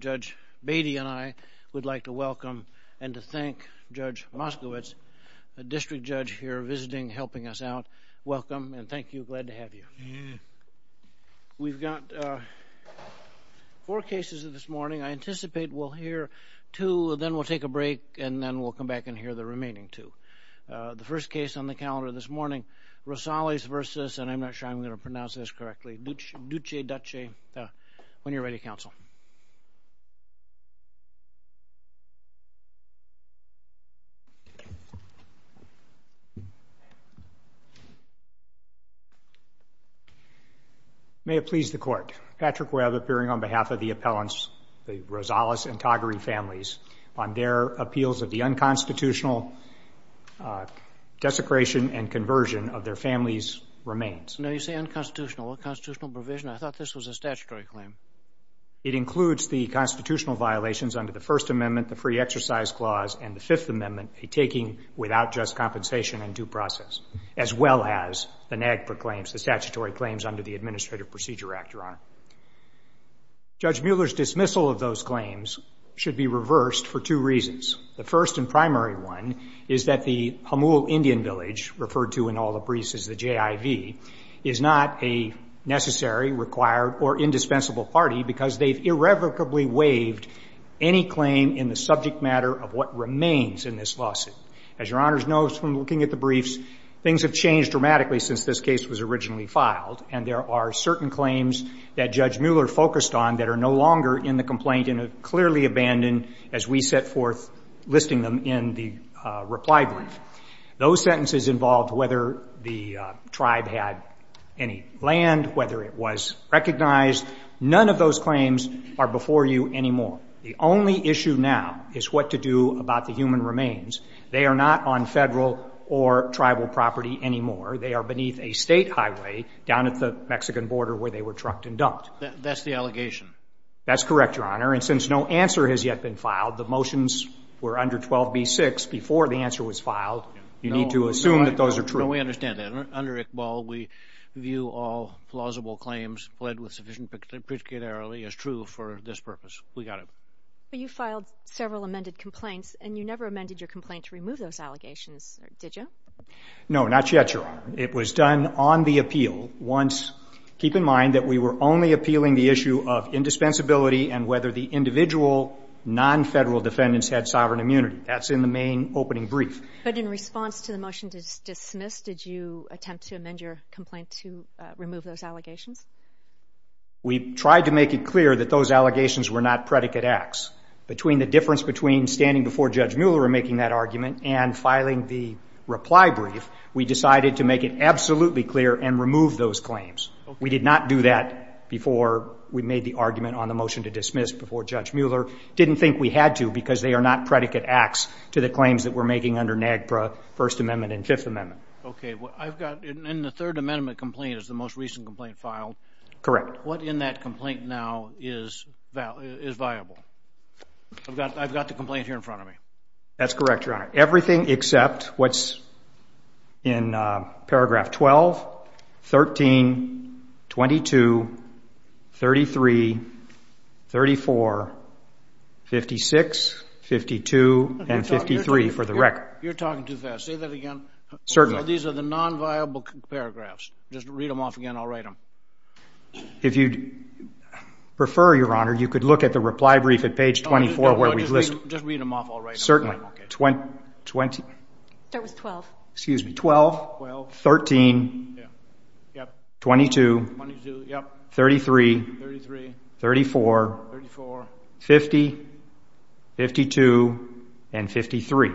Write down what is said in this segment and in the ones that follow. Judge Batey and I would like to welcome and to thank Judge Moskowitz, a district judge here visiting, helping us out. Welcome and thank you, glad to have you. We've got four cases this morning. I anticipate we'll hear two, then we'll take a break, and then we'll come back and hear the remaining two. The first case on the calendar this morning, Rosales v. Dutschke, when you're ready, counsel. May it please the court, Patrick Webb appearing on behalf of the appellants, the Rosales and Dutschke. The Rosales and Dutschke case is a case of unconstitutional desecration and conversion of their family's remains. No, you say unconstitutional. What constitutional provision? I thought this was a statutory claim. It includes the constitutional violations under the First Amendment, the Free Exercise Clause, and the Fifth Amendment, a taking without just compensation and due process, as well as the NAGPRA claims, the statutory claims under the Administrative Procedure Act, Your Honor. Judge Mueller's dismissal of those claims should be reversed for two reasons. The first and primary one is that the Pamul Indian Village, referred to in all the briefs as the JIV, is not a necessary, required, or indispensable party because they've irrevocably waived any claim in the subject matter of what remains in this lawsuit. As Your Honor knows from looking at the briefs, things have changed dramatically since this case was originally filed, and there are certain claims that Judge Mueller focused on that are no longer in the complaint and are clearly abandoned as we set forth listing them in the reply brief. Those sentences involved whether the tribe had any land, whether it was recognized, none of those claims are before you anymore. The only issue now is what to do about the human remains. They are not on federal or tribal property anymore. They are beneath a state highway down at the Mexican border where they were trucked and dumped. That's the allegation? That's correct, Your Honor. And since no answer has yet been filed, the motions were under 12b-6 before the answer was filed. You need to assume that those are true. No, we understand that. Under Iqbal, we view all plausible claims pled with sufficient particularity as true for this purpose. We got it. But you filed several amended complaints, and you never amended your complaint to remove those allegations, did you? No, not yet, Your Honor. It was done on the appeal. Once, keep in mind that we were only appealing the issue of indispensability and whether the individual non-federal defendants had sovereign immunity. That's in the main opening brief. But in response to the motion to dismiss, did you attempt to amend your complaint to remove those allegations? We tried to make it clear that those allegations were not predicate acts. Between the difference between standing before Judge Mueller and making that argument and filing the reply brief, we decided to make it absolutely clear and remove those claims. We did not do that before we made the argument on the motion to dismiss before Judge Mueller. Didn't think we had to because they are not predicate acts to the claims that we're making under NAGPRA, First Amendment, and Fifth Amendment. OK. I've got in the Third Amendment complaint is the most recent complaint filed. Correct. What in that complaint now is viable? I've got the complaint here in front of me. That's correct, Your Honor. Everything except what's in paragraph 12, 13, 22, 33, 34, 56, 52, and 53 for the record. You're talking too fast. Say that again. Certainly. These are the non-viable paragraphs. Just read them off again. I'll write them. If you'd prefer, Your Honor, you could look at the reply brief at page 24 where we've listed. Just read them off. I'll write them. Certainly. OK. 20. Start with 12. Excuse me, 12, 13, 22, 33, 34, 50, 52, and 53.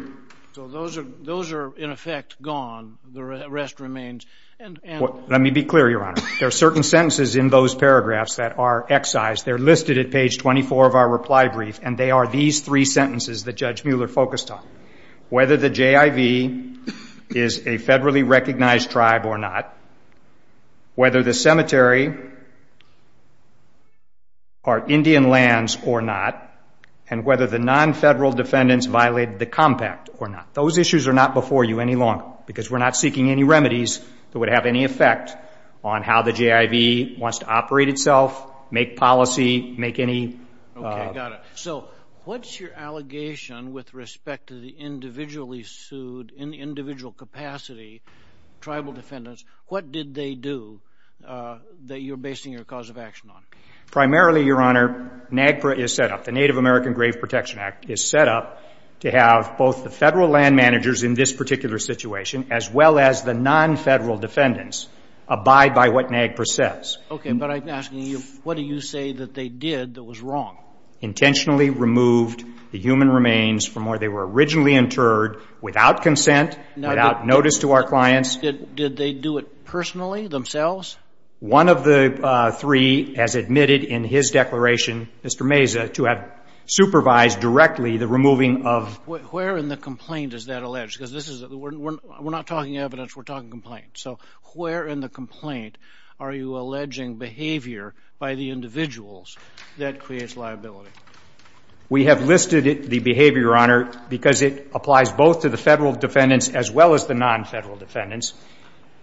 So those are, in effect, gone. The rest remains. Let me be clear, Your Honor. There are certain sentences in those paragraphs that are excised. They're listed at page 24 of our reply brief. And they are these three sentences that Judge Mueller focused on, whether the JIV is a federally recognized tribe or not, whether the cemetery are Indian lands or not, and whether the non-federal defendants violated the compact or not. Those issues are not before you any longer, because we're not seeking any remedies that would have any effect on how the JIV wants to operate itself, make policy, make any. OK. Got it. So what's your allegation with respect to the individually sued, in individual capacity, tribal defendants? What did they do that you're basing your cause of action on? Primarily, Your Honor, NAGPRA is set up. The Native American Grave Protection Act is set up to have both the federal land managers in this particular situation, as well as the non-federal defendants, abide by what NAGPRA says. OK. But I'm asking you, what do you say that they did that was wrong? Intentionally removed the human remains from where they were originally interred, without consent, without notice to our clients. Did they do it personally, themselves? One of the three has admitted in his declaration, Mr. Meza, to have supervised directly the removing of. Where in the complaint is that alleged? Because we're not talking evidence, we're talking complaints. So where in the complaint are you alleging behavior by the individuals that creates liability? We have listed the behavior, Your Honor, because it applies both to the federal defendants, as well as the non-federal defendants,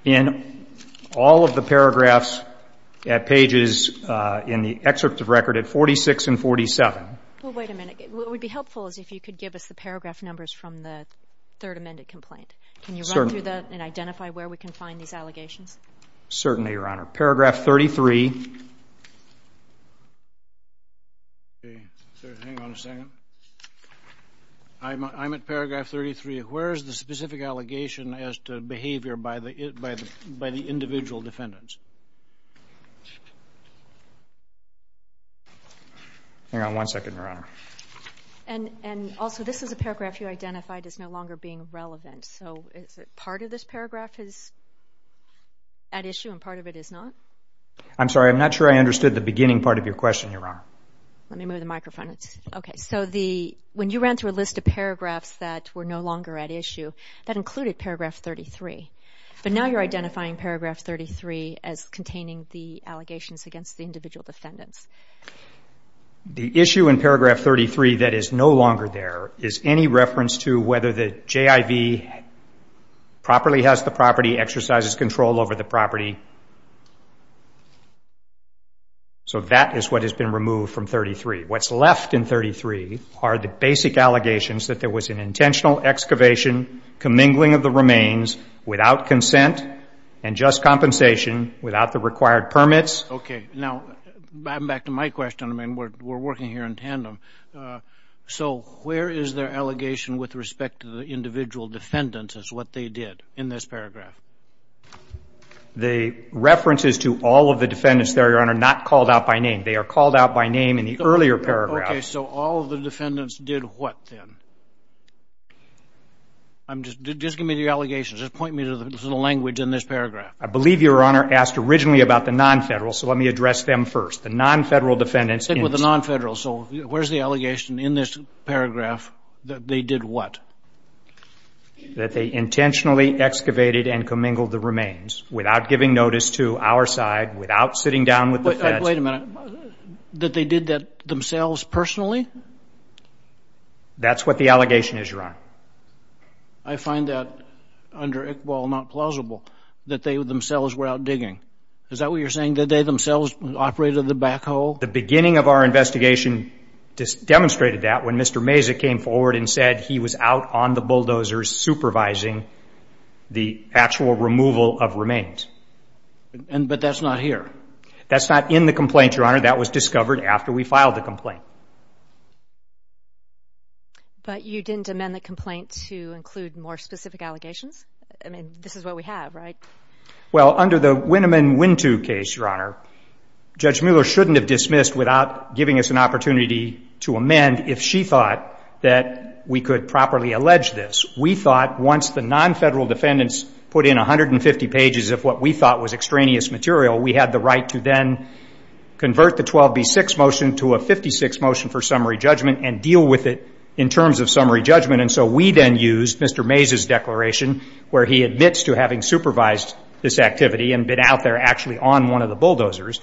in all of the paragraphs at pages in the excerpt of record at 46 and 47. Well, wait a minute. What would be helpful is if you could give us the paragraph numbers from the third amended complaint. Can you run through that and identify where we can find these allegations? Certainly, Your Honor. Paragraph 33. Hang on a second. I'm at paragraph 33. Where is the specific allegation as to behavior by the individual defendants? Hang on one second, Your Honor. And also, this is a paragraph you identified as no longer being relevant. So is it part of this paragraph is at issue, and part of it is not? I'm sorry. I'm not sure I understood the beginning part of your question, Your Honor. Let me move the microphone. OK. So when you ran through a list of paragraphs that were no longer at issue, that included paragraph 33. But now you're identifying paragraph 33 as containing the allegations against the individual defendants. The issue in paragraph 33 that is no longer there is any reference to whether the JIV properly has the property, exercises control over the property. So that is what has been removed from 33. What's left in 33 are the basic allegations that there was an intentional excavation, commingling of the remains, without consent, and just compensation without the required permits. OK. Now, back to my question. I mean, we're working here in tandem. So where is their allegation with respect to the individual defendants is what they did in this paragraph? The reference is to all of the defendants there, Your Honor, not called out by name. They are called out by name in the earlier paragraph. OK. So all of the defendants did what, then? I'm just, just give me the allegations. Just point me to the language in this paragraph. I believe Your Honor asked originally about the non-federal, so let me address them first. The non-federal defendants. Stick with the non-federal. So where's the allegation in this paragraph that they did what? That they intentionally excavated and commingled the remains without giving notice to our side, without sitting down with the feds. Wait a minute. That they did that themselves personally? That's what the allegation is, Your Honor. I find that under Iqbal not plausible, that they themselves were out digging. Is that what you're saying, that they themselves operated the back hole? The beginning of our investigation just demonstrated that when Mr. Mazza came forward and said he was out on the bulldozers supervising the actual removal of remains. But that's not here. That's not in the complaint, Your Honor. That was discovered after we filed the complaint. But you didn't amend the complaint to include more specific allegations? I mean, this is what we have, right? Well, under the Wineman Wintu case, Your Honor, Judge Mueller shouldn't have dismissed without giving us an opportunity to amend if she thought that we could properly allege this. We thought once the non-federal defendants put in 150 pages of what we thought was extraneous material, we had the right to then convert the 12B6 motion to a 56 motion for summary judgment and deal with it in terms of summary judgment. And so we then used Mr. Mazza's declaration where he admits to having supervised this activity and been out there actually on one of the bulldozers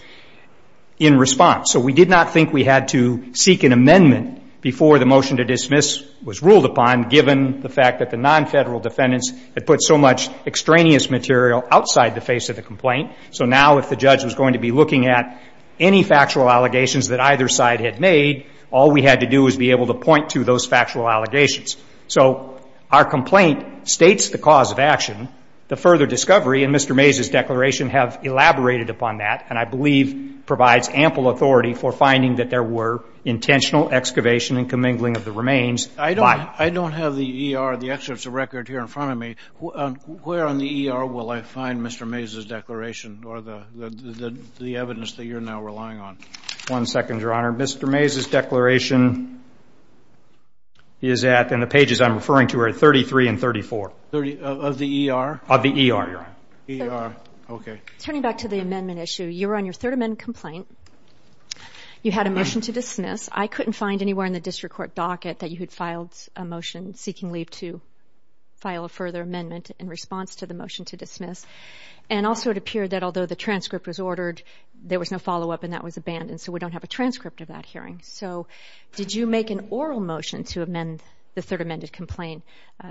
in response. So we did not think we had to seek an amendment before the motion to dismiss was ruled upon, given the fact that the non-federal defendants had put so much extraneous material outside the face of the complaint. So now if the judge was going to be looking at any factual allegations that either side had made, all we had to do was be able to point to those factual allegations. So our complaint states the cause of action. The further discovery in Mr. Mazza's declaration have elaborated upon that, and I believe provides ample authority for finding that there were intentional excavation and commingling of the remains. I don't have the ER, the excerpts of record here in front of me. Where on the ER will I find Mr. Mazza's declaration or the evidence that you're now relying on? One second, Your Honor. Mr. Mazza's declaration is at, and the pages I'm referring to are 33 and 34. Of the ER? Of the ER, Your Honor. ER, OK. Turning back to the amendment issue, you were on your third amendment complaint. You had a motion to dismiss. I couldn't find anywhere in the district court docket that you had filed a motion seeking leave to file a further amendment in response to the motion to dismiss. And also it appeared that although the transcript was ordered, there was no follow up, and that was abandoned. So we don't have a transcript of that hearing. So did you make an oral motion to amend the third amended complaint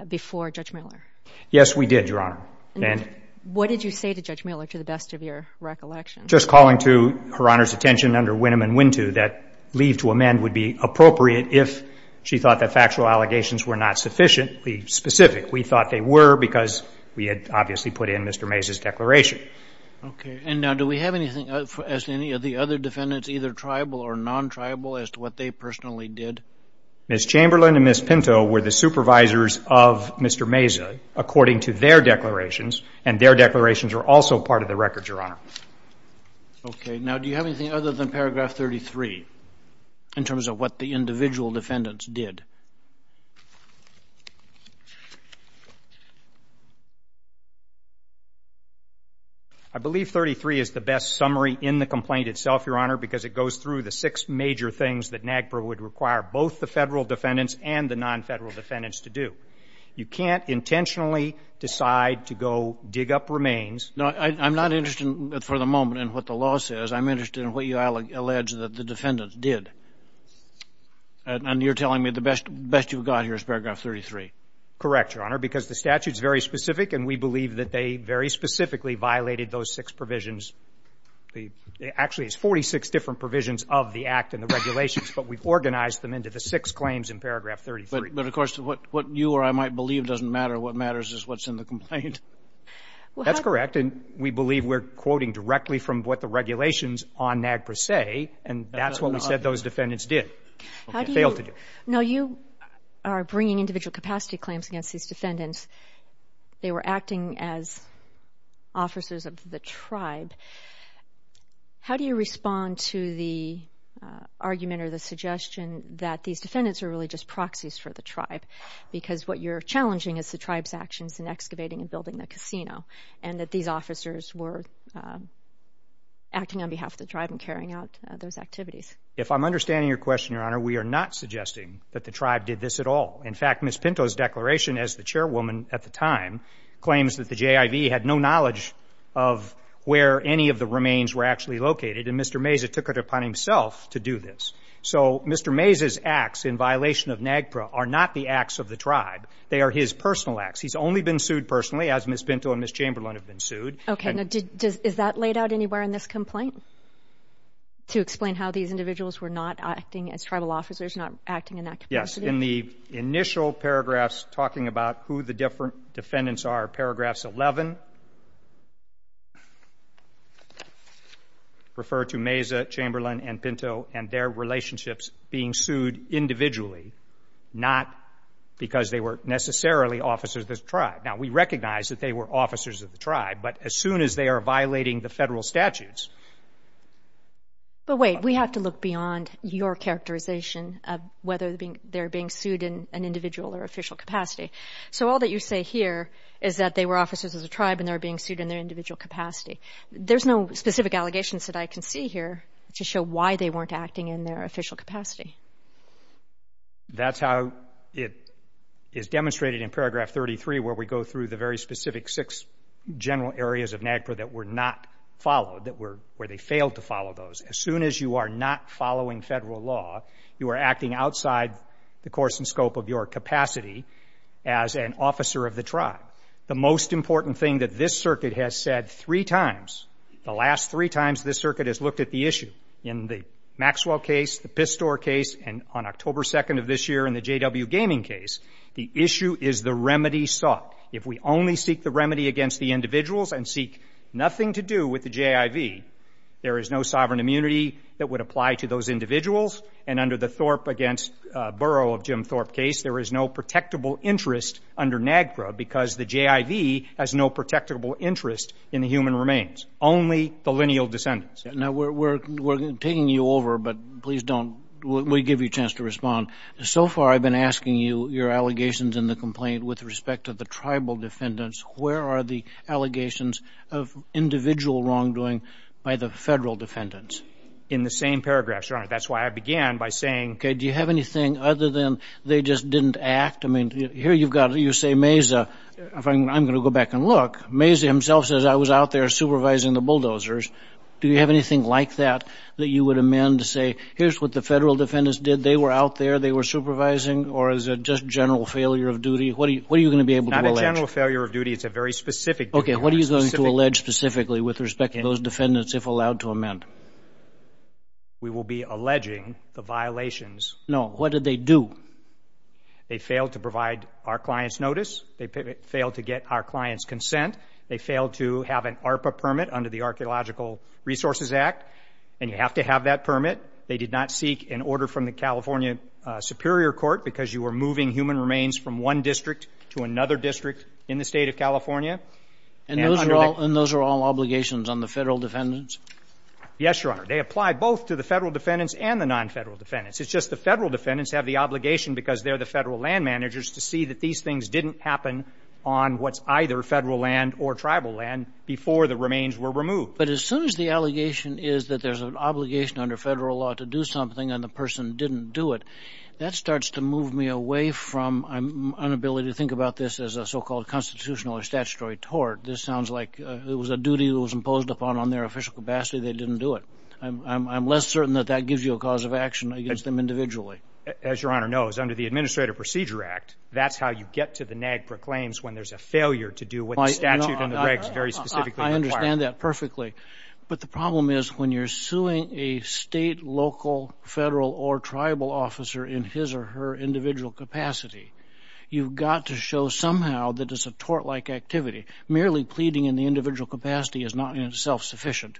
before Judge Miller? Yes, we did, Your Honor. And what did you say to Judge Miller, to the best of your recollection? Just calling to Her Honor's attention under Wynnum and Wintou that leave to amend would be appropriate if she thought that factual allegations were not sufficiently specific. We thought they were because we had obviously put in Mr. Mazza's declaration. OK, and now do we have anything as any of the other defendants, either tribal or non-tribal, as to what they personally did? Ms. Chamberlain and Ms. Pinto were the supervisors of Mr. Mazza according to their declarations, and their declarations are also part of the record, Your Honor. OK, now do you have anything other than paragraph 33 in terms of what the individual defendants did? I believe 33 is the best summary in the complaint itself, Your Honor, because it goes through the six major things that NAGPRA would require both the federal defendants and the non-federal defendants to do. You can't intentionally decide to go dig up remains. No, I'm not interested for the moment in what the law says. I'm interested in what you allege that the defendants did. And you're telling me the best you've got here is paragraph 33. Correct, Your Honor, because the statute's very specific, and we believe that they very specifically violated those six provisions. Actually, it's 46 different provisions of the act and the regulations, but we've organized them into the six claims in paragraph 33. But of course, what you or I might believe doesn't matter. What matters is what's in the complaint. That's correct, and we believe we're quoting directly from what the regulations on NAGPRA say, and that's what we said those defendants did, failed to do. Now, you are bringing individual capacity claims against these defendants. They were acting as officers of the tribe. How do you respond to the argument or the suggestion that these defendants are really just proxies for the tribe? Because what you're challenging is the tribe's actions in excavating and building the casino, and that these officers were acting on behalf of the tribe and carrying out those activities. If I'm understanding your question, Your Honor, we are not suggesting that the tribe did this at all. In fact, Ms. Pinto's declaration as the chairwoman at the time claims that the JIV had no knowledge of where any of the remains were actually located, and Mr. Mazza took it upon himself to do this. So Mr. Mazza's acts in violation of NAGPRA are not the acts of the tribe. They are his personal acts. He's only been sued personally, as Ms. Pinto and Ms. Chamberlain have been sued. OK, now, is that laid out anywhere in this complaint to explain how these individuals were not acting as tribal officers, not acting in that capacity? Yes, in the initial paragraphs talking about who the different defendants are, paragraphs 11 refer to Mazza, Chamberlain, and Pinto and their relationships being sued individually, not because they were necessarily officers of the tribe. Now, we recognize that they were officers of the tribe, but as soon as they are violating the federal statutes. But wait, we have to look beyond your characterization of whether they're being sued in an individual or official capacity. So all that you say here is that they were officers of the tribe and they're being sued in their individual capacity. There's no specific allegations that I can see here to show why they weren't acting in their official capacity. That's how it is demonstrated in paragraph 33, where we go through the very specific six general areas of NAGPRA that were not followed, where they failed to follow those. As soon as you are not following federal law, you are acting outside the course and scope of your capacity as an officer of the tribe. The most important thing that this circuit has said three times, the last three times this circuit has looked at the issue, in the Maxwell case, the Pistor case, and on October 2 of this year in the JW Gaming case, the issue is the remedy sought. If we only seek the remedy against the individuals and seek nothing to do with the JIV, there is no sovereign immunity that would apply to those individuals. And under the Thorpe against Burrow of Jim Thorpe case, there is no protectable interest under NAGPRA because the JIV has no protectable interest in the human remains, only the lineal descendants. Now, we're taking you over, but please don't. We'll give you a chance to respond. So far, I've been asking you your allegations in the complaint with respect to the tribal defendants. Where are the allegations of individual wrongdoing by the federal defendants? In the same paragraphs, Your Honor. That's why I began by saying, OK, do you have anything other than they just didn't act? I mean, here you've got, you say, Mazza, if I'm going to go back and look, Mazza himself says I was out there supervising the bulldozers. Do you have anything like that that you would amend to say, here's what the federal defendants did. They were out there. They were supervising. Or is it just general failure of duty? What are you going to be able to allege? Not a general failure of duty. It's a very specific duty. OK, what are you going to allege specifically with respect to those defendants, if allowed to amend? We will be alleging the violations. No, what did they do? They failed to provide our client's notice. They failed to get our client's consent. They failed to have an ARPA permit under the Archaeological Resources Act. And you have to have that permit. They did not seek an order from the California Superior Court because you were moving human remains from one district to another district in the state of California. And those are all obligations on the federal defendants? Yes, Your Honor. They apply both to the federal defendants and the non-federal defendants. It's just the federal defendants have the obligation because they're the federal land managers to see that these things didn't happen on what's either federal land or tribal land before the remains were removed. But as soon as the allegation is that there's an obligation under federal law to do something and the person didn't do it, that starts to move me away from an inability to think about this as a so-called constitutional or statutory tort. This sounds like it was a duty that was imposed upon them on their official capacity. They didn't do it. I'm less certain that that gives you a cause of action against them individually. As Your Honor knows, under the Administrative Procedure Act, that's how you get to the NAGPRA claims when there's a failure to do what the statute and the regs very specifically require. I understand that perfectly. But the problem is, when you're suing a state, local, federal, or tribal officer in his or her individual capacity, you've got to show somehow that it's a tort-like activity. Merely pleading in the individual capacity is not in itself sufficient.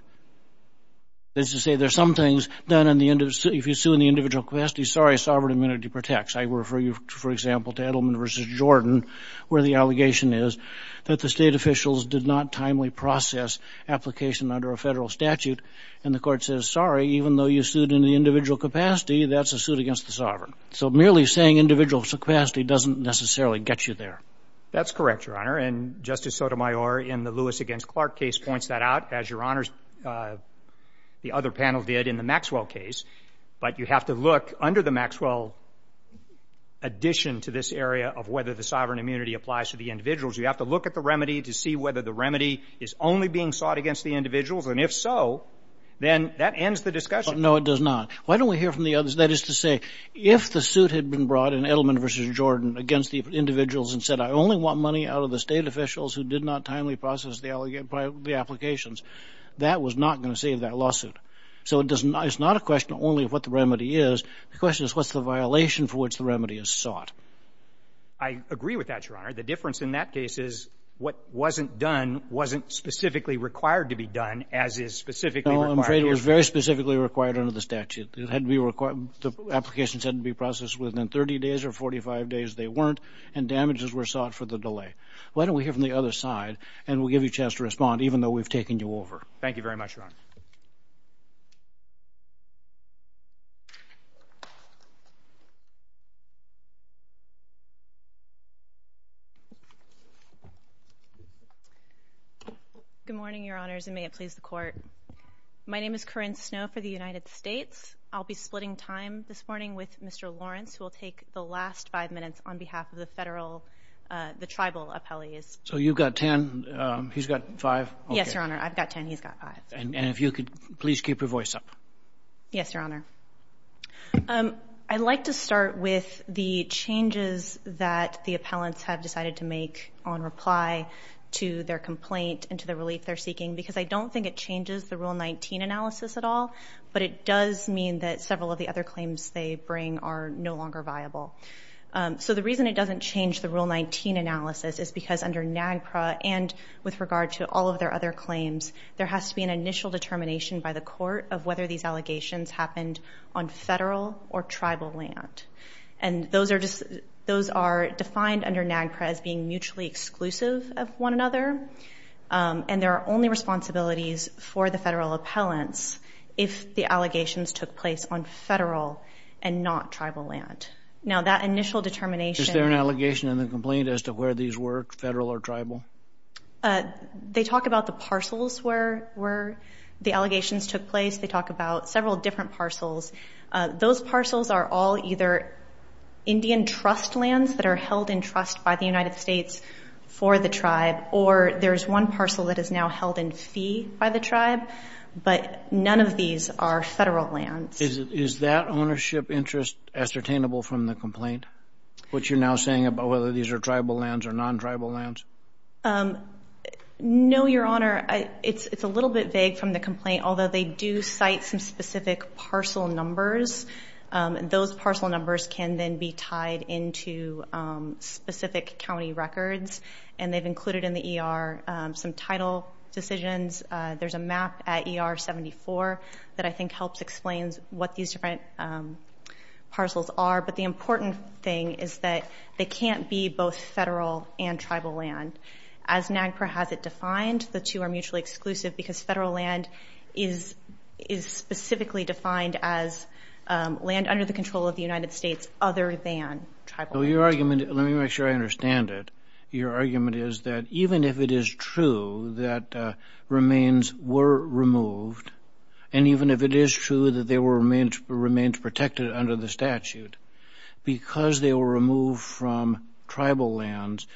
That is to say, there's some things done in the individual. If you sue in the individual capacity, sorry, sovereign immunity protects. I refer you, for example, to Edelman versus Jordan, where the allegation is that the state officials did not timely process application under a federal statute. And the court says, sorry, even though you sued in the individual capacity, that's a suit against the sovereign. So merely saying individual capacity doesn't necessarily get you there. That's correct, Your Honor. And Justice Sotomayor, in the Lewis against Clark case points that out, as Your Honors, the other panel did in the Maxwell case. But you have to look under the Maxwell addition to this area of whether the sovereign immunity applies to the individuals. You have to look at the remedy to see whether the remedy is only being sought against the individuals. And if so, then that ends the discussion. No, it does not. Why don't we hear from the others? That is to say, if the suit had been brought in Edelman versus Jordan against the individuals and said, I only want money out of the state officials who did not timely process the applications, that was not going to save that lawsuit. So it's not a question only of what the remedy is. The question is, what's the violation for which the remedy is sought? I agree with that, Your Honor. The difference in that case is what wasn't done wasn't specifically required to be done, as is specifically required here. No, I'm afraid it was very specifically required under the statute. It had to be required. The applications had to be processed within 30 days or 45 days. They weren't. And damages were sought for the delay. Why don't we hear from the other side? And we'll give you a chance to respond, even though we've taken you over. Thank you very much, Your Honor. Good morning, Your Honors, and may it please the Court. My name is Corinne Snow for the United States. I'll be splitting time this morning with Mr. Lawrence, who will take the last five minutes on behalf of the federal, the tribal appellees. So you've got 10. He's got five. Yes, Your Honor. I've got 10. He's got five. And if you could please keep your voice up. Yes, Your Honor. I'd like to start with the changes that the appellants have decided to make on reply to their complaint and to the relief they're seeking. Because I don't think it changes the Rule 19 analysis at all, but it does mean that several of the other claims they bring are no longer viable. So the reason it doesn't change the Rule 19 analysis is because under NAGPRA and with regard to all of their other claims, there has to be an initial determination by the court of whether these allegations happened on federal or tribal land. And those are defined under NAGPRA as being mutually exclusive of one another. And there are only responsibilities for the federal appellants if the allegations took place on federal and not tribal land. Now, that initial determination. Is there an allegation in the complaint as to where these were, federal or tribal? They talk about the parcels where the allegations took place. They talk about several different parcels. Those parcels are all either Indian trust lands that are held in trust by the United States for the tribe, or there is one parcel that is now held in fee by the tribe. But none of these are federal lands. Is that ownership interest ascertainable from the complaint, what you're now saying about whether these are tribal lands or non-tribal lands? No, Your Honor. It's a little bit vague from the complaint, although they do cite some specific parcel numbers. And those parcel numbers can then be tied into specific county records. And they've included in the ER some title decisions. There's a map at ER 74 that I think helps explain what these different parcels are. But the important thing is that they can't be both federal and tribal land. As NAGPRA has it defined, the two are mutually exclusive because federal land is specifically defined as land under the control of the United States other than tribal land. Let me make sure I understand it. Your argument is that even if it is true that remains were removed, and even if it is true that they were remains protected under the statute, because they were removed from tribal lands,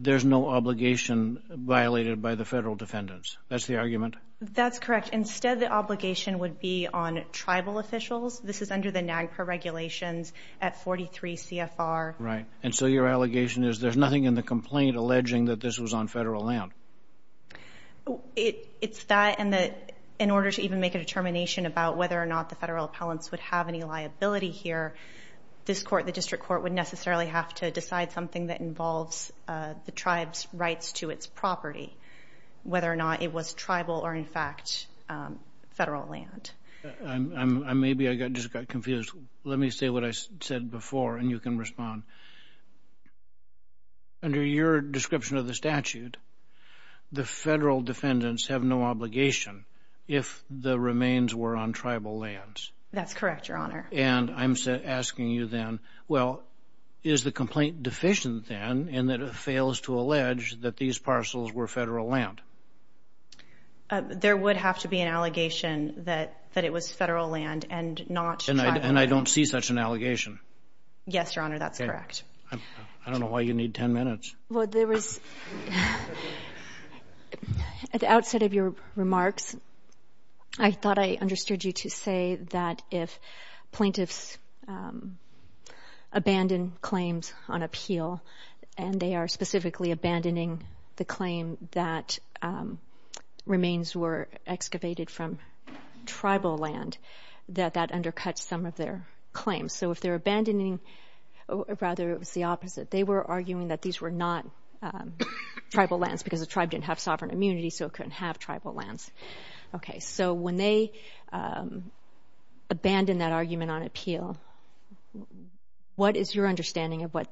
there's no obligation violated by the federal defendants. That's the argument? That's correct. Instead, the obligation would be on tribal officials. This is under the NAGPRA regulations at 43 CFR. Right. And so your allegation is there's nothing in the complaint alleging that this was on federal land. It's that. And in order to even make a determination about whether or not the federal appellants would have any liability here, this court, the district court, would necessarily have to decide something that involves the tribe's rights to its property, whether or not it was tribal or, in fact, federal land. Maybe I just got confused. Let me say what I said before, and you can respond. Under your description of the statute, the federal defendants have no obligation if the remains were on tribal lands. That's correct, Your Honor. And I'm asking you then, well, is the complaint deficient, then, in that it fails to allege that these parcels were federal land? There would have to be an allegation that it was federal land and not tribal land. And I don't see such an allegation. Yes, Your Honor, that's correct. I don't know why you need 10 minutes. Well, there was, at the outset of your remarks, I thought I understood you to say that if plaintiffs abandon claims on appeal, and they are specifically abandoning the claim that remains were excavated from tribal land, that that undercuts some of their claims. So if they're abandoning, or rather, it was the opposite. They were arguing that these were not tribal lands, because the tribe didn't have sovereign immunity, so it couldn't have tribal lands. OK, so when they abandon that argument on appeal, what is your understanding of what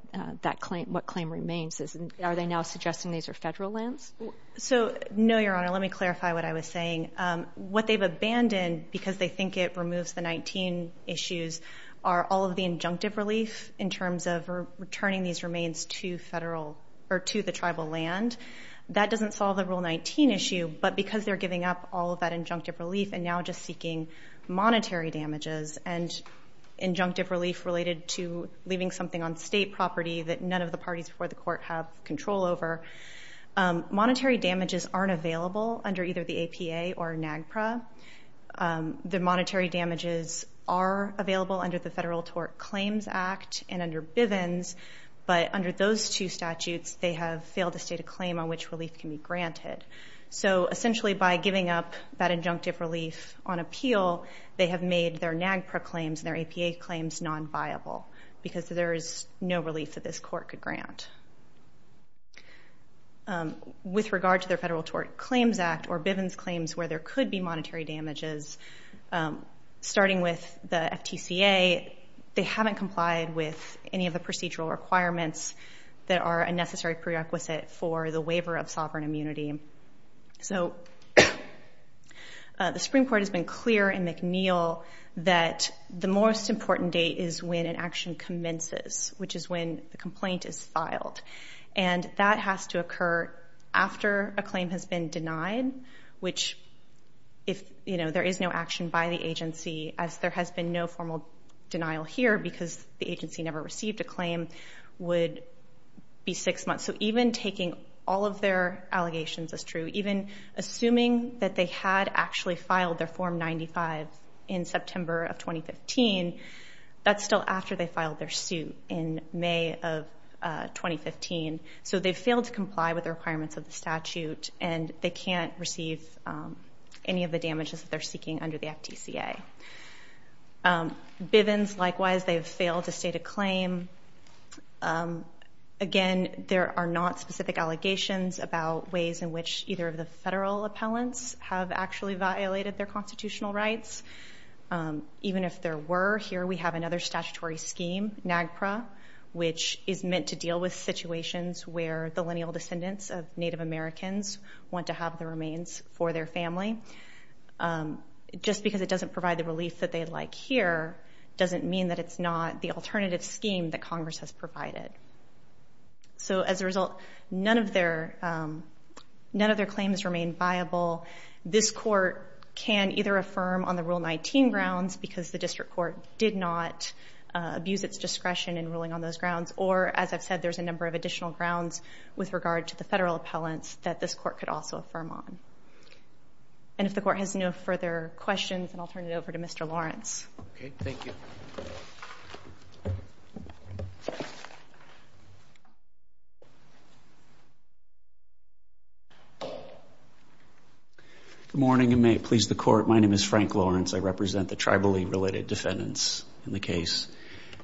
claim remains? Are they now suggesting these are federal lands? So no, Your Honor, let me clarify what I was saying. What they've abandoned, because they think it removes the 19 issues, are all of the injunctive relief in terms of returning these remains to the tribal land. That doesn't solve the Rule 19 issue, but because they're giving up all of that injunctive relief and now just seeking monetary damages and injunctive relief related to leaving something on state property that none of the parties before the court have control over, monetary damages aren't available under either the APA or NAGPRA. The monetary damages are available under the Federal Tort Claims Act and under Bivens, but under those two statutes, they have failed to state a claim on which relief can be granted. So essentially, by giving up that injunctive relief on appeal, they have made their NAGPRA claims, their APA claims, non-viable, because there is no relief that this court could grant. With regard to their Federal Tort Claims Act or Bivens where there could be monetary damages, starting with the FTCA, they haven't complied with any of the procedural requirements that are a necessary prerequisite for the waiver of sovereign immunity. So the Supreme Court has been clear in McNeil that the most important date is when an action commences, which is when the complaint is filed. And that has to occur after a claim has been denied, which if there is no action by the agency, as there has been no formal denial here because the agency never received a claim, would be six months. So even taking all of their allegations as true, even assuming that they had actually filed their Form 95 in September of 2015, that's still after they filed their suit in May of 2015. So they failed to comply with the requirements of the statute. And they can't receive any of the damages that they're seeking under the FTCA. Bivens, likewise, they have failed to state a claim. Again, there are not specific allegations about ways in which either of the federal appellants have actually violated their constitutional rights. Even if there were, here we have another statutory scheme, NAGPRA, which is meant to deal with situations where the lineal descendants of Native Americans want to have the remains for their family. Just because it doesn't provide the relief that they'd like here doesn't mean that it's not the alternative scheme that Congress has provided. So as a result, none of their claims remain viable. This court can either affirm on the Rule 19 grounds because the district court did not abuse its discretion in ruling on those grounds. Or, as I've said, there's a number of additional grounds with regard to the federal appellants that this court could also affirm on. And if the court has no further questions, then I'll turn it over to Mr. Lawrence. OK. Thank you. Good morning. And may it please the court, my name is Frank Lawrence. I represent the tribally related defendants in the case.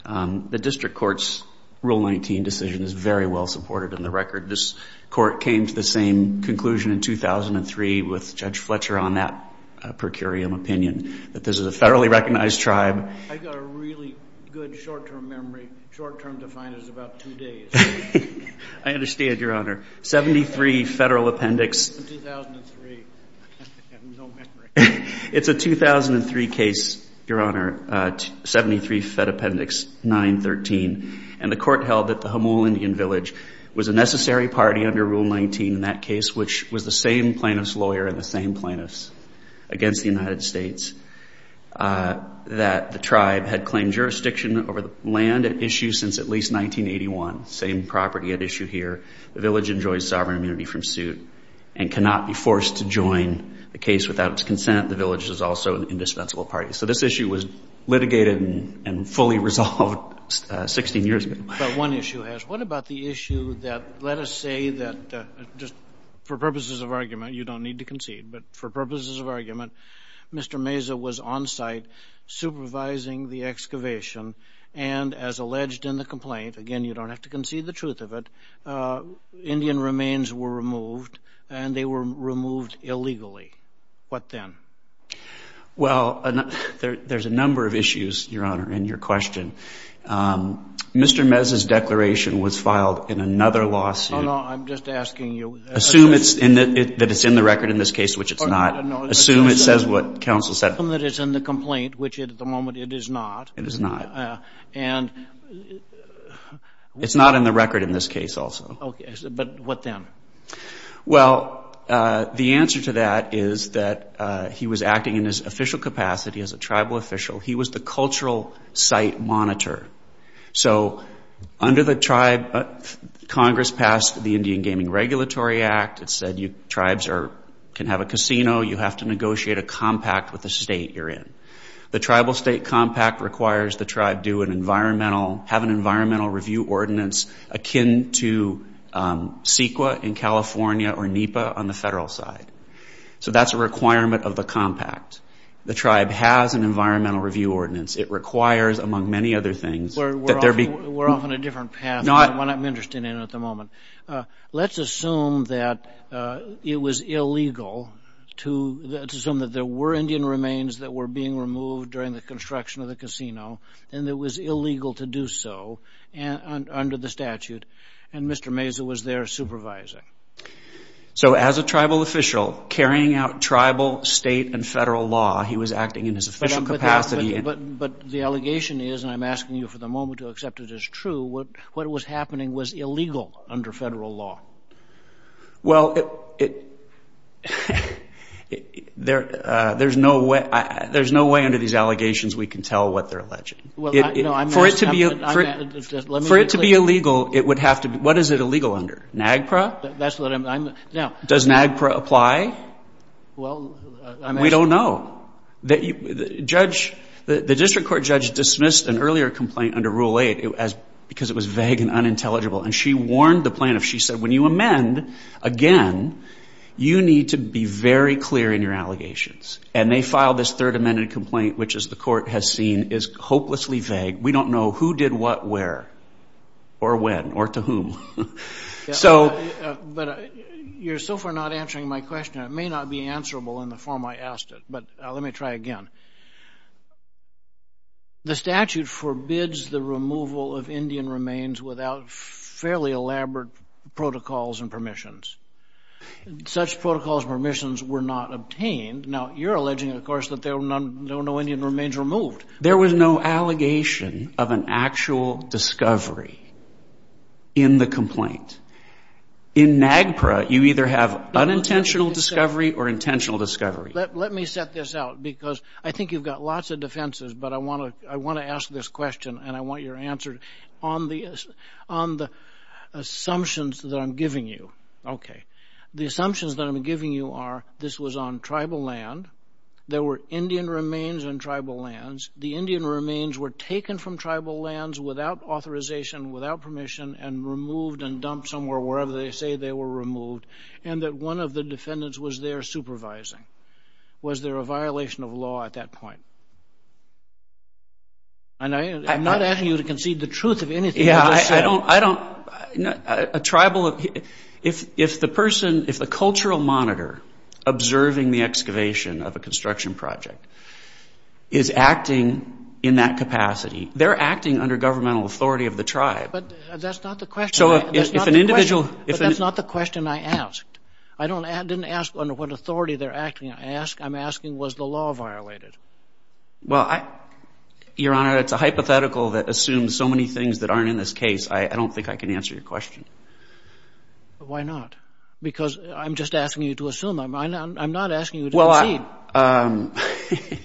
The district court's Rule 19 decision is very well supported in the record. This court came to the same conclusion in 2003 with Judge Fletcher on that per curiam opinion, that this is a federally recognized tribe. I've got a really good short-term memory. Short-term to find is about two days. I understand, Your Honor. 73 federal appendix. 2003, I have no memory. It's a 2003 case, Your Honor. 73 fed appendix, 913. And the court held that the Humboldt Indian village was a necessary party under Rule 19 in that case, which was the same plaintiff's lawyer and the same plaintiff's against the United States, that the tribe had claimed jurisdiction over the land at issue since at least 1981. Same property at issue here. The village enjoys sovereign immunity from suit and cannot be forced to join the case without its consent. The village is also an indispensable party. So this issue was litigated and fully resolved 16 years ago. But one issue has. What about the issue that, let us say that, just for purposes of argument, you don't need to concede. But for purposes of argument, Mr. Meza was on site supervising the excavation. And as alleged in the complaint, again, you don't have to concede the truth of it, Indian remains were removed. And they were removed illegally. What then? Well, there's a number of issues, Your Honor, in your question. Mr. Meza's declaration was filed in another lawsuit. Oh, no, I'm just asking you. Assume that it's in the record in this case, which it's not. Assume it says what counsel said. Assume that it's in the complaint, which at the moment it is not. It is not. And. It's not in the record in this case also. But what then? Well, the answer to that is that he was acting in his official capacity as a tribal official. He was the cultural site monitor. So under the tribe, Congress passed the Indian Gaming Regulatory Act. It said tribes can have a casino. You have to negotiate a compact with the state you're in. The tribal state compact requires the tribe have an environmental review ordinance akin to CEQA in California or NEPA on the federal side. So that's a requirement of the compact. The tribe has an environmental review ordinance. It requires, among many other things, that there be. We're off on a different path, one I'm interested in at the moment. Let's assume that it was illegal to assume that there were Indian remains that were being removed during the construction of the casino, and it was illegal to do so. Under the statute. And Mr. Mazza was there supervising. So as a tribal official, carrying out tribal, state, and federal law, he was acting in his official capacity. But the allegation is, and I'm asking you for the moment to accept it as true, what was happening was illegal under federal law. Well, there's no way under these allegations we can tell what they're alleging. For it to be illegal, it would have to be. What is it illegal under? NAGPRA? Does NAGPRA apply? Well, I'm asking. We don't know. The district court judge dismissed an earlier complaint under Rule 8 because it was vague and unintelligible. And she warned the plaintiff. She said, when you amend again, you need to be very clear in your allegations. And they filed this third amended complaint, which, as the court has seen, is hopelessly vague. We don't know who did what where, or when, or to whom. But you're so far not answering my question, it may not be answerable in the form I asked it. But let me try again. The statute forbids the removal of Indian remains without fairly elaborate protocols and permissions. Such protocols and permissions were not obtained. Now, you're alleging, of course, that there were no Indian remains removed. There was no allegation of an actual discovery in the complaint. In NAGPRA, you either have unintentional discovery or intentional discovery. Let me set this out, because I think you've got lots of defenses. But I want to ask this question, and I want your answer on the assumptions that I'm giving you. The assumptions that I'm giving you are, this was on tribal land. There were Indian remains on tribal lands. The Indian remains were taken from tribal lands without authorization, without permission, and removed and dumped somewhere, wherever they say they were removed. And that one of the defendants was there supervising. Was there a violation of law at that point? And I am not asking you to concede the truth of anything you just said. I don't. A tribal, if the person, if the cultural monitor observing the excavation of a construction project is acting in that capacity, they're acting under governmental authority of the tribe. But that's not the question. So if an individual, if an individual. But that's not the question I asked. I didn't ask under what authority they're acting. I'm asking, was the law violated? Well, Your Honor, it's a hypothetical that assumes so many things that aren't in this case. I don't think I can answer your question. Why not? Because I'm just asking you to assume. I'm not asking you to concede.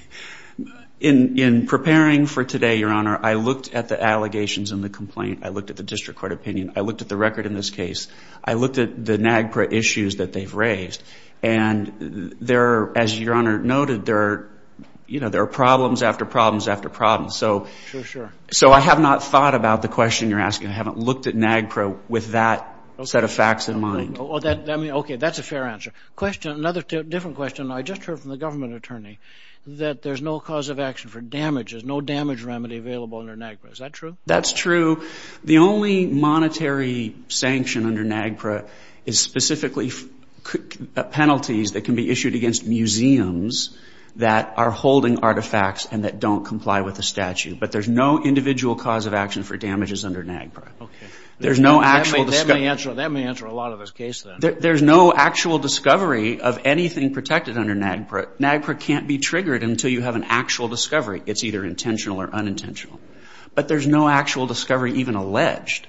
In preparing for today, Your Honor, I looked at the allegations in the complaint. I looked at the district court opinion. I looked at the record in this case. I looked at the NAGPRA issues that they've raised. And as Your Honor noted, there are problems after problems after problems. So I have not thought about the question you're asking. I haven't looked at NAGPRA with that set of facts in mind. OK, that's a fair answer. Question, another different question. I just heard from the government attorney that there's no cause of action for damages, no damage remedy available under NAGPRA. Is that true? That's true. The only monetary sanction under NAGPRA is specifically penalties that can be issued against museums that are holding artifacts and that don't comply with the statute. But there's no individual cause of action for damages under NAGPRA. There's no actual discussion. That may answer a lot of this case then. There's no actual discovery of anything protected under NAGPRA. NAGPRA can't be triggered until you have an actual discovery. It's either intentional or unintentional. But there's no actual discovery even alleged.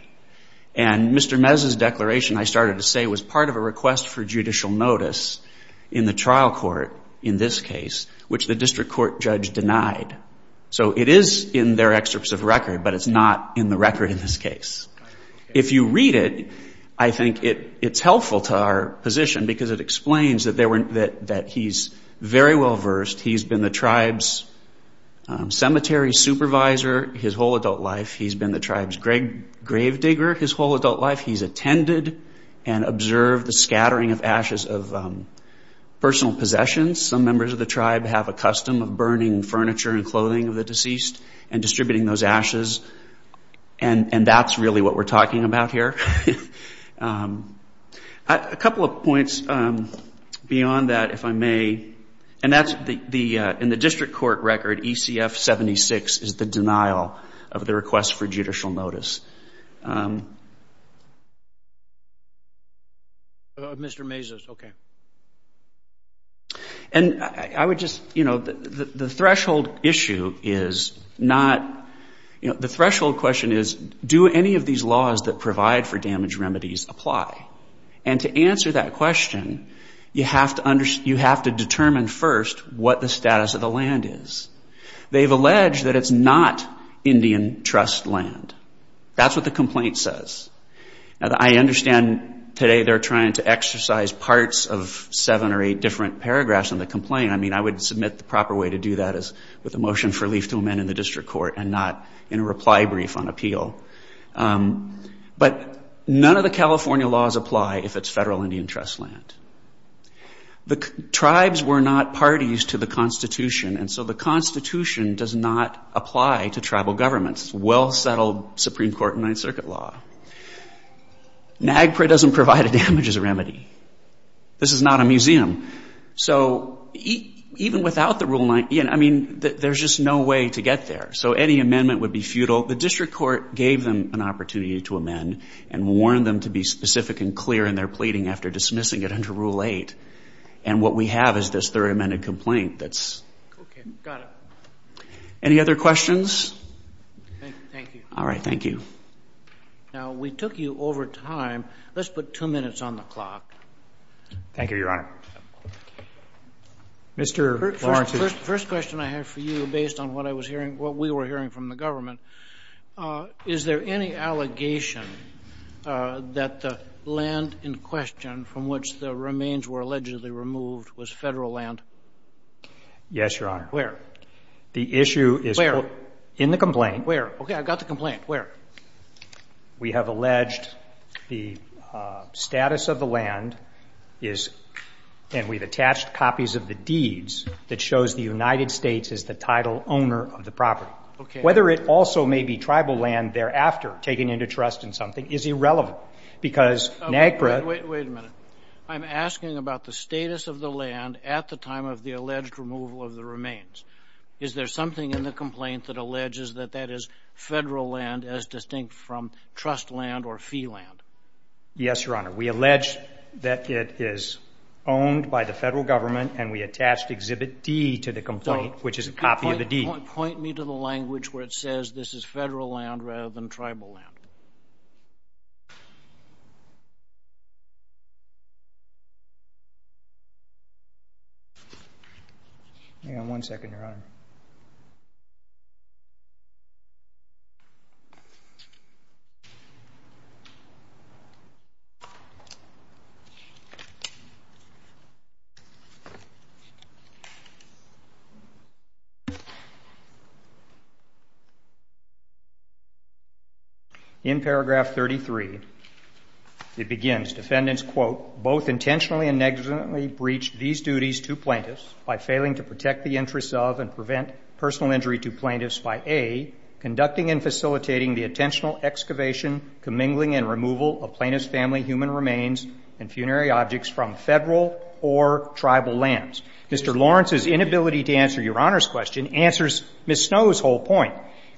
And Mr. Mez's declaration, I started to say, was part of a request for judicial notice in the trial court in this case, which the district court judge denied. So it is in their excerpts of record, but it's not in the record in this case. If you read it, I think it's helpful to our position because it explains that he's very well versed. He's been the tribe's cemetery supervisor his whole adult life. He's been the tribe's grave digger his whole adult life. He's attended and observed the scattering of ashes of personal possessions. Some members of the tribe have a custom of burning furniture and clothing of the deceased and distributing those ashes. And that's really what we're talking about here. A couple of points beyond that, if I may. And that's in the district court record, ECF-76 is the denial of the request for judicial notice. Mr. Mez's, OK. And I would just, you know, the threshold issue is not, the threshold question is, do any of these laws that provide for damage remedies apply? And to answer that question, you have to determine first what the status of the land is. They've alleged that it's not Indian trust land. That's what the complaint says. Now, I understand today they're trying to exercise parts of seven or eight different paragraphs in the complaint. I mean, I would submit the proper way to do that is with a motion for relief to amend in the district court and not in a reply brief on appeal. But none of the California laws apply if it's federal Indian trust land. The tribes were not parties to the Constitution, and so the Constitution does not apply to tribal governments, well-settled Supreme Court Ninth Circuit law. NAGPRA doesn't provide a damages remedy. This is not a museum. So even without the Rule 9, I mean, there's just no way to get there. So any amendment would be futile. The district court gave them an opportunity to amend and warned them to be specific and clear in their pleading after dismissing it under Rule 8. And what we have is this third amended complaint that's. OK, got it. Any other questions? Thank you. All right, thank you. Now, we took you over time. Let's put two minutes on the clock. Thank you, Your Honor. Mr. Warranty. First question I have for you, based on what we were hearing from the government, is there any allegation that the land in question from which the remains were allegedly removed was federal land? Yes, Your Honor. Where? The issue is in the complaint. Where? OK, I've got the complaint. Where? We have alleged the status of the land is, and we've attached copies of the deeds that shows the United States is the title owner of the property. Whether it also may be tribal land thereafter taken into trust in something is irrelevant, because NAGPRA. Wait a minute. I'm asking about the status of the land at the time of the alleged removal of the remains. Is there something in the complaint that alleges that that is federal land as distinct from trust land or fee land? Yes, Your Honor. We allege that it is owned by the federal government, and we attached Exhibit D to the complaint, which is a copy of the deed. Point me to the language where it says this is federal land rather than tribal land. Hang on one second, Your Honor. OK. In paragraph 33, it begins, defendants, quote, both intentionally and negligently breached these duties to plaintiffs by failing to protect the interests of and prevent personal injury to plaintiffs by, A, conducting and facilitating the intentional excavation, commingling, and removal of plaintiff's family human remains and funerary objects from federal or tribal lands. Mr. Lawrence's inability to answer Your Honor's question answers Ms. Snow's whole point.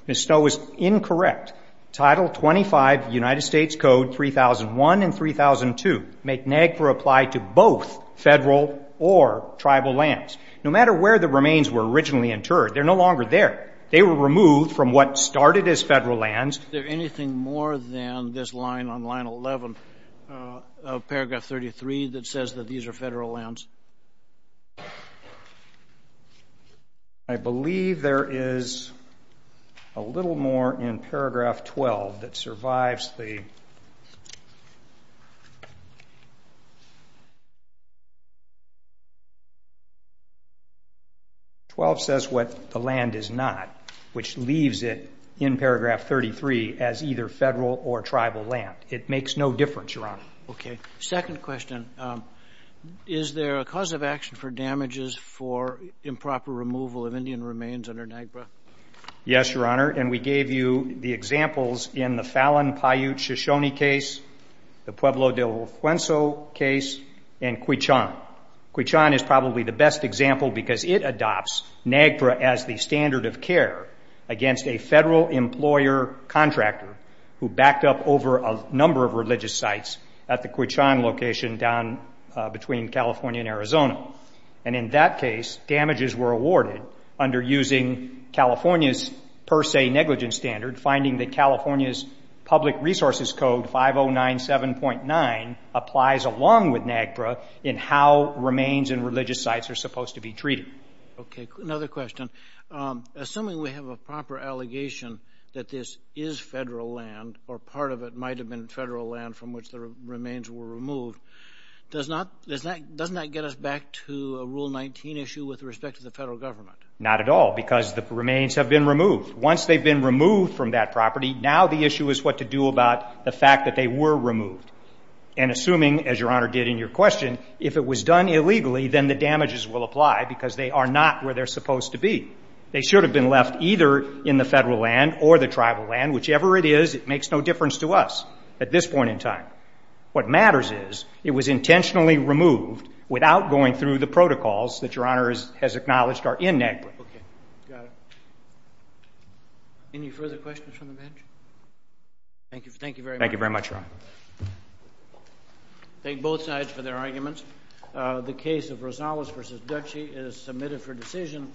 Ms. Snow is incorrect. Title 25, United States Code 3001 and 3002 make NAGPRA apply to both federal or tribal lands. No matter where the remains were originally interred, they're no longer there. They were removed from what started as federal lands. Is there anything more than this line on line 11 of paragraph 33 that says that these are federal lands? I believe there is a little more in paragraph 12 that survives the 12 says what the land is not, which leaves it in paragraph 33 as either federal or tribal land. It makes no difference, Your Honor. OK. Second question. Is there a cause of action for damages for improper removal of Indian remains under NAGPRA? Yes, Your Honor. And we gave you the examples in the Fallon-Paiute-Shoshone case, the Pueblo del Fuenzo case, and Quichon. Quichon is probably the best example because it adopts NAGPRA as the standard of care against a federal employer contractor who has a Quichon location down between California and Arizona. And in that case, damages were awarded under using California's per se negligence standard, finding that California's public resources code 5097.9 applies along with NAGPRA in how remains in religious sites are supposed to be treated. OK. Another question. Assuming we have a proper allegation that this is federal land, or part of it might have been federal land from which the remains were removed, doesn't that get us back to a Rule 19 issue with respect to the federal government? Not at all, because the remains have been removed. Once they've been removed from that property, now the issue is what to do about the fact that they were removed. And assuming, as Your Honor did in your question, if it was done illegally, then the damages will apply because they are not where they're supposed to be. They should have been left either in the federal land Whichever it is, it makes no difference to us at this point in time. What matters is it was intentionally removed without going through the protocols that Your Honor has acknowledged are in NAGPRA. OK. Got it. Any further questions from the bench? Thank you. Thank you very much. Thank you very much, Your Honor. Thank both sides for their arguments. The case of Rosales v. Dutchie is submitted for decision.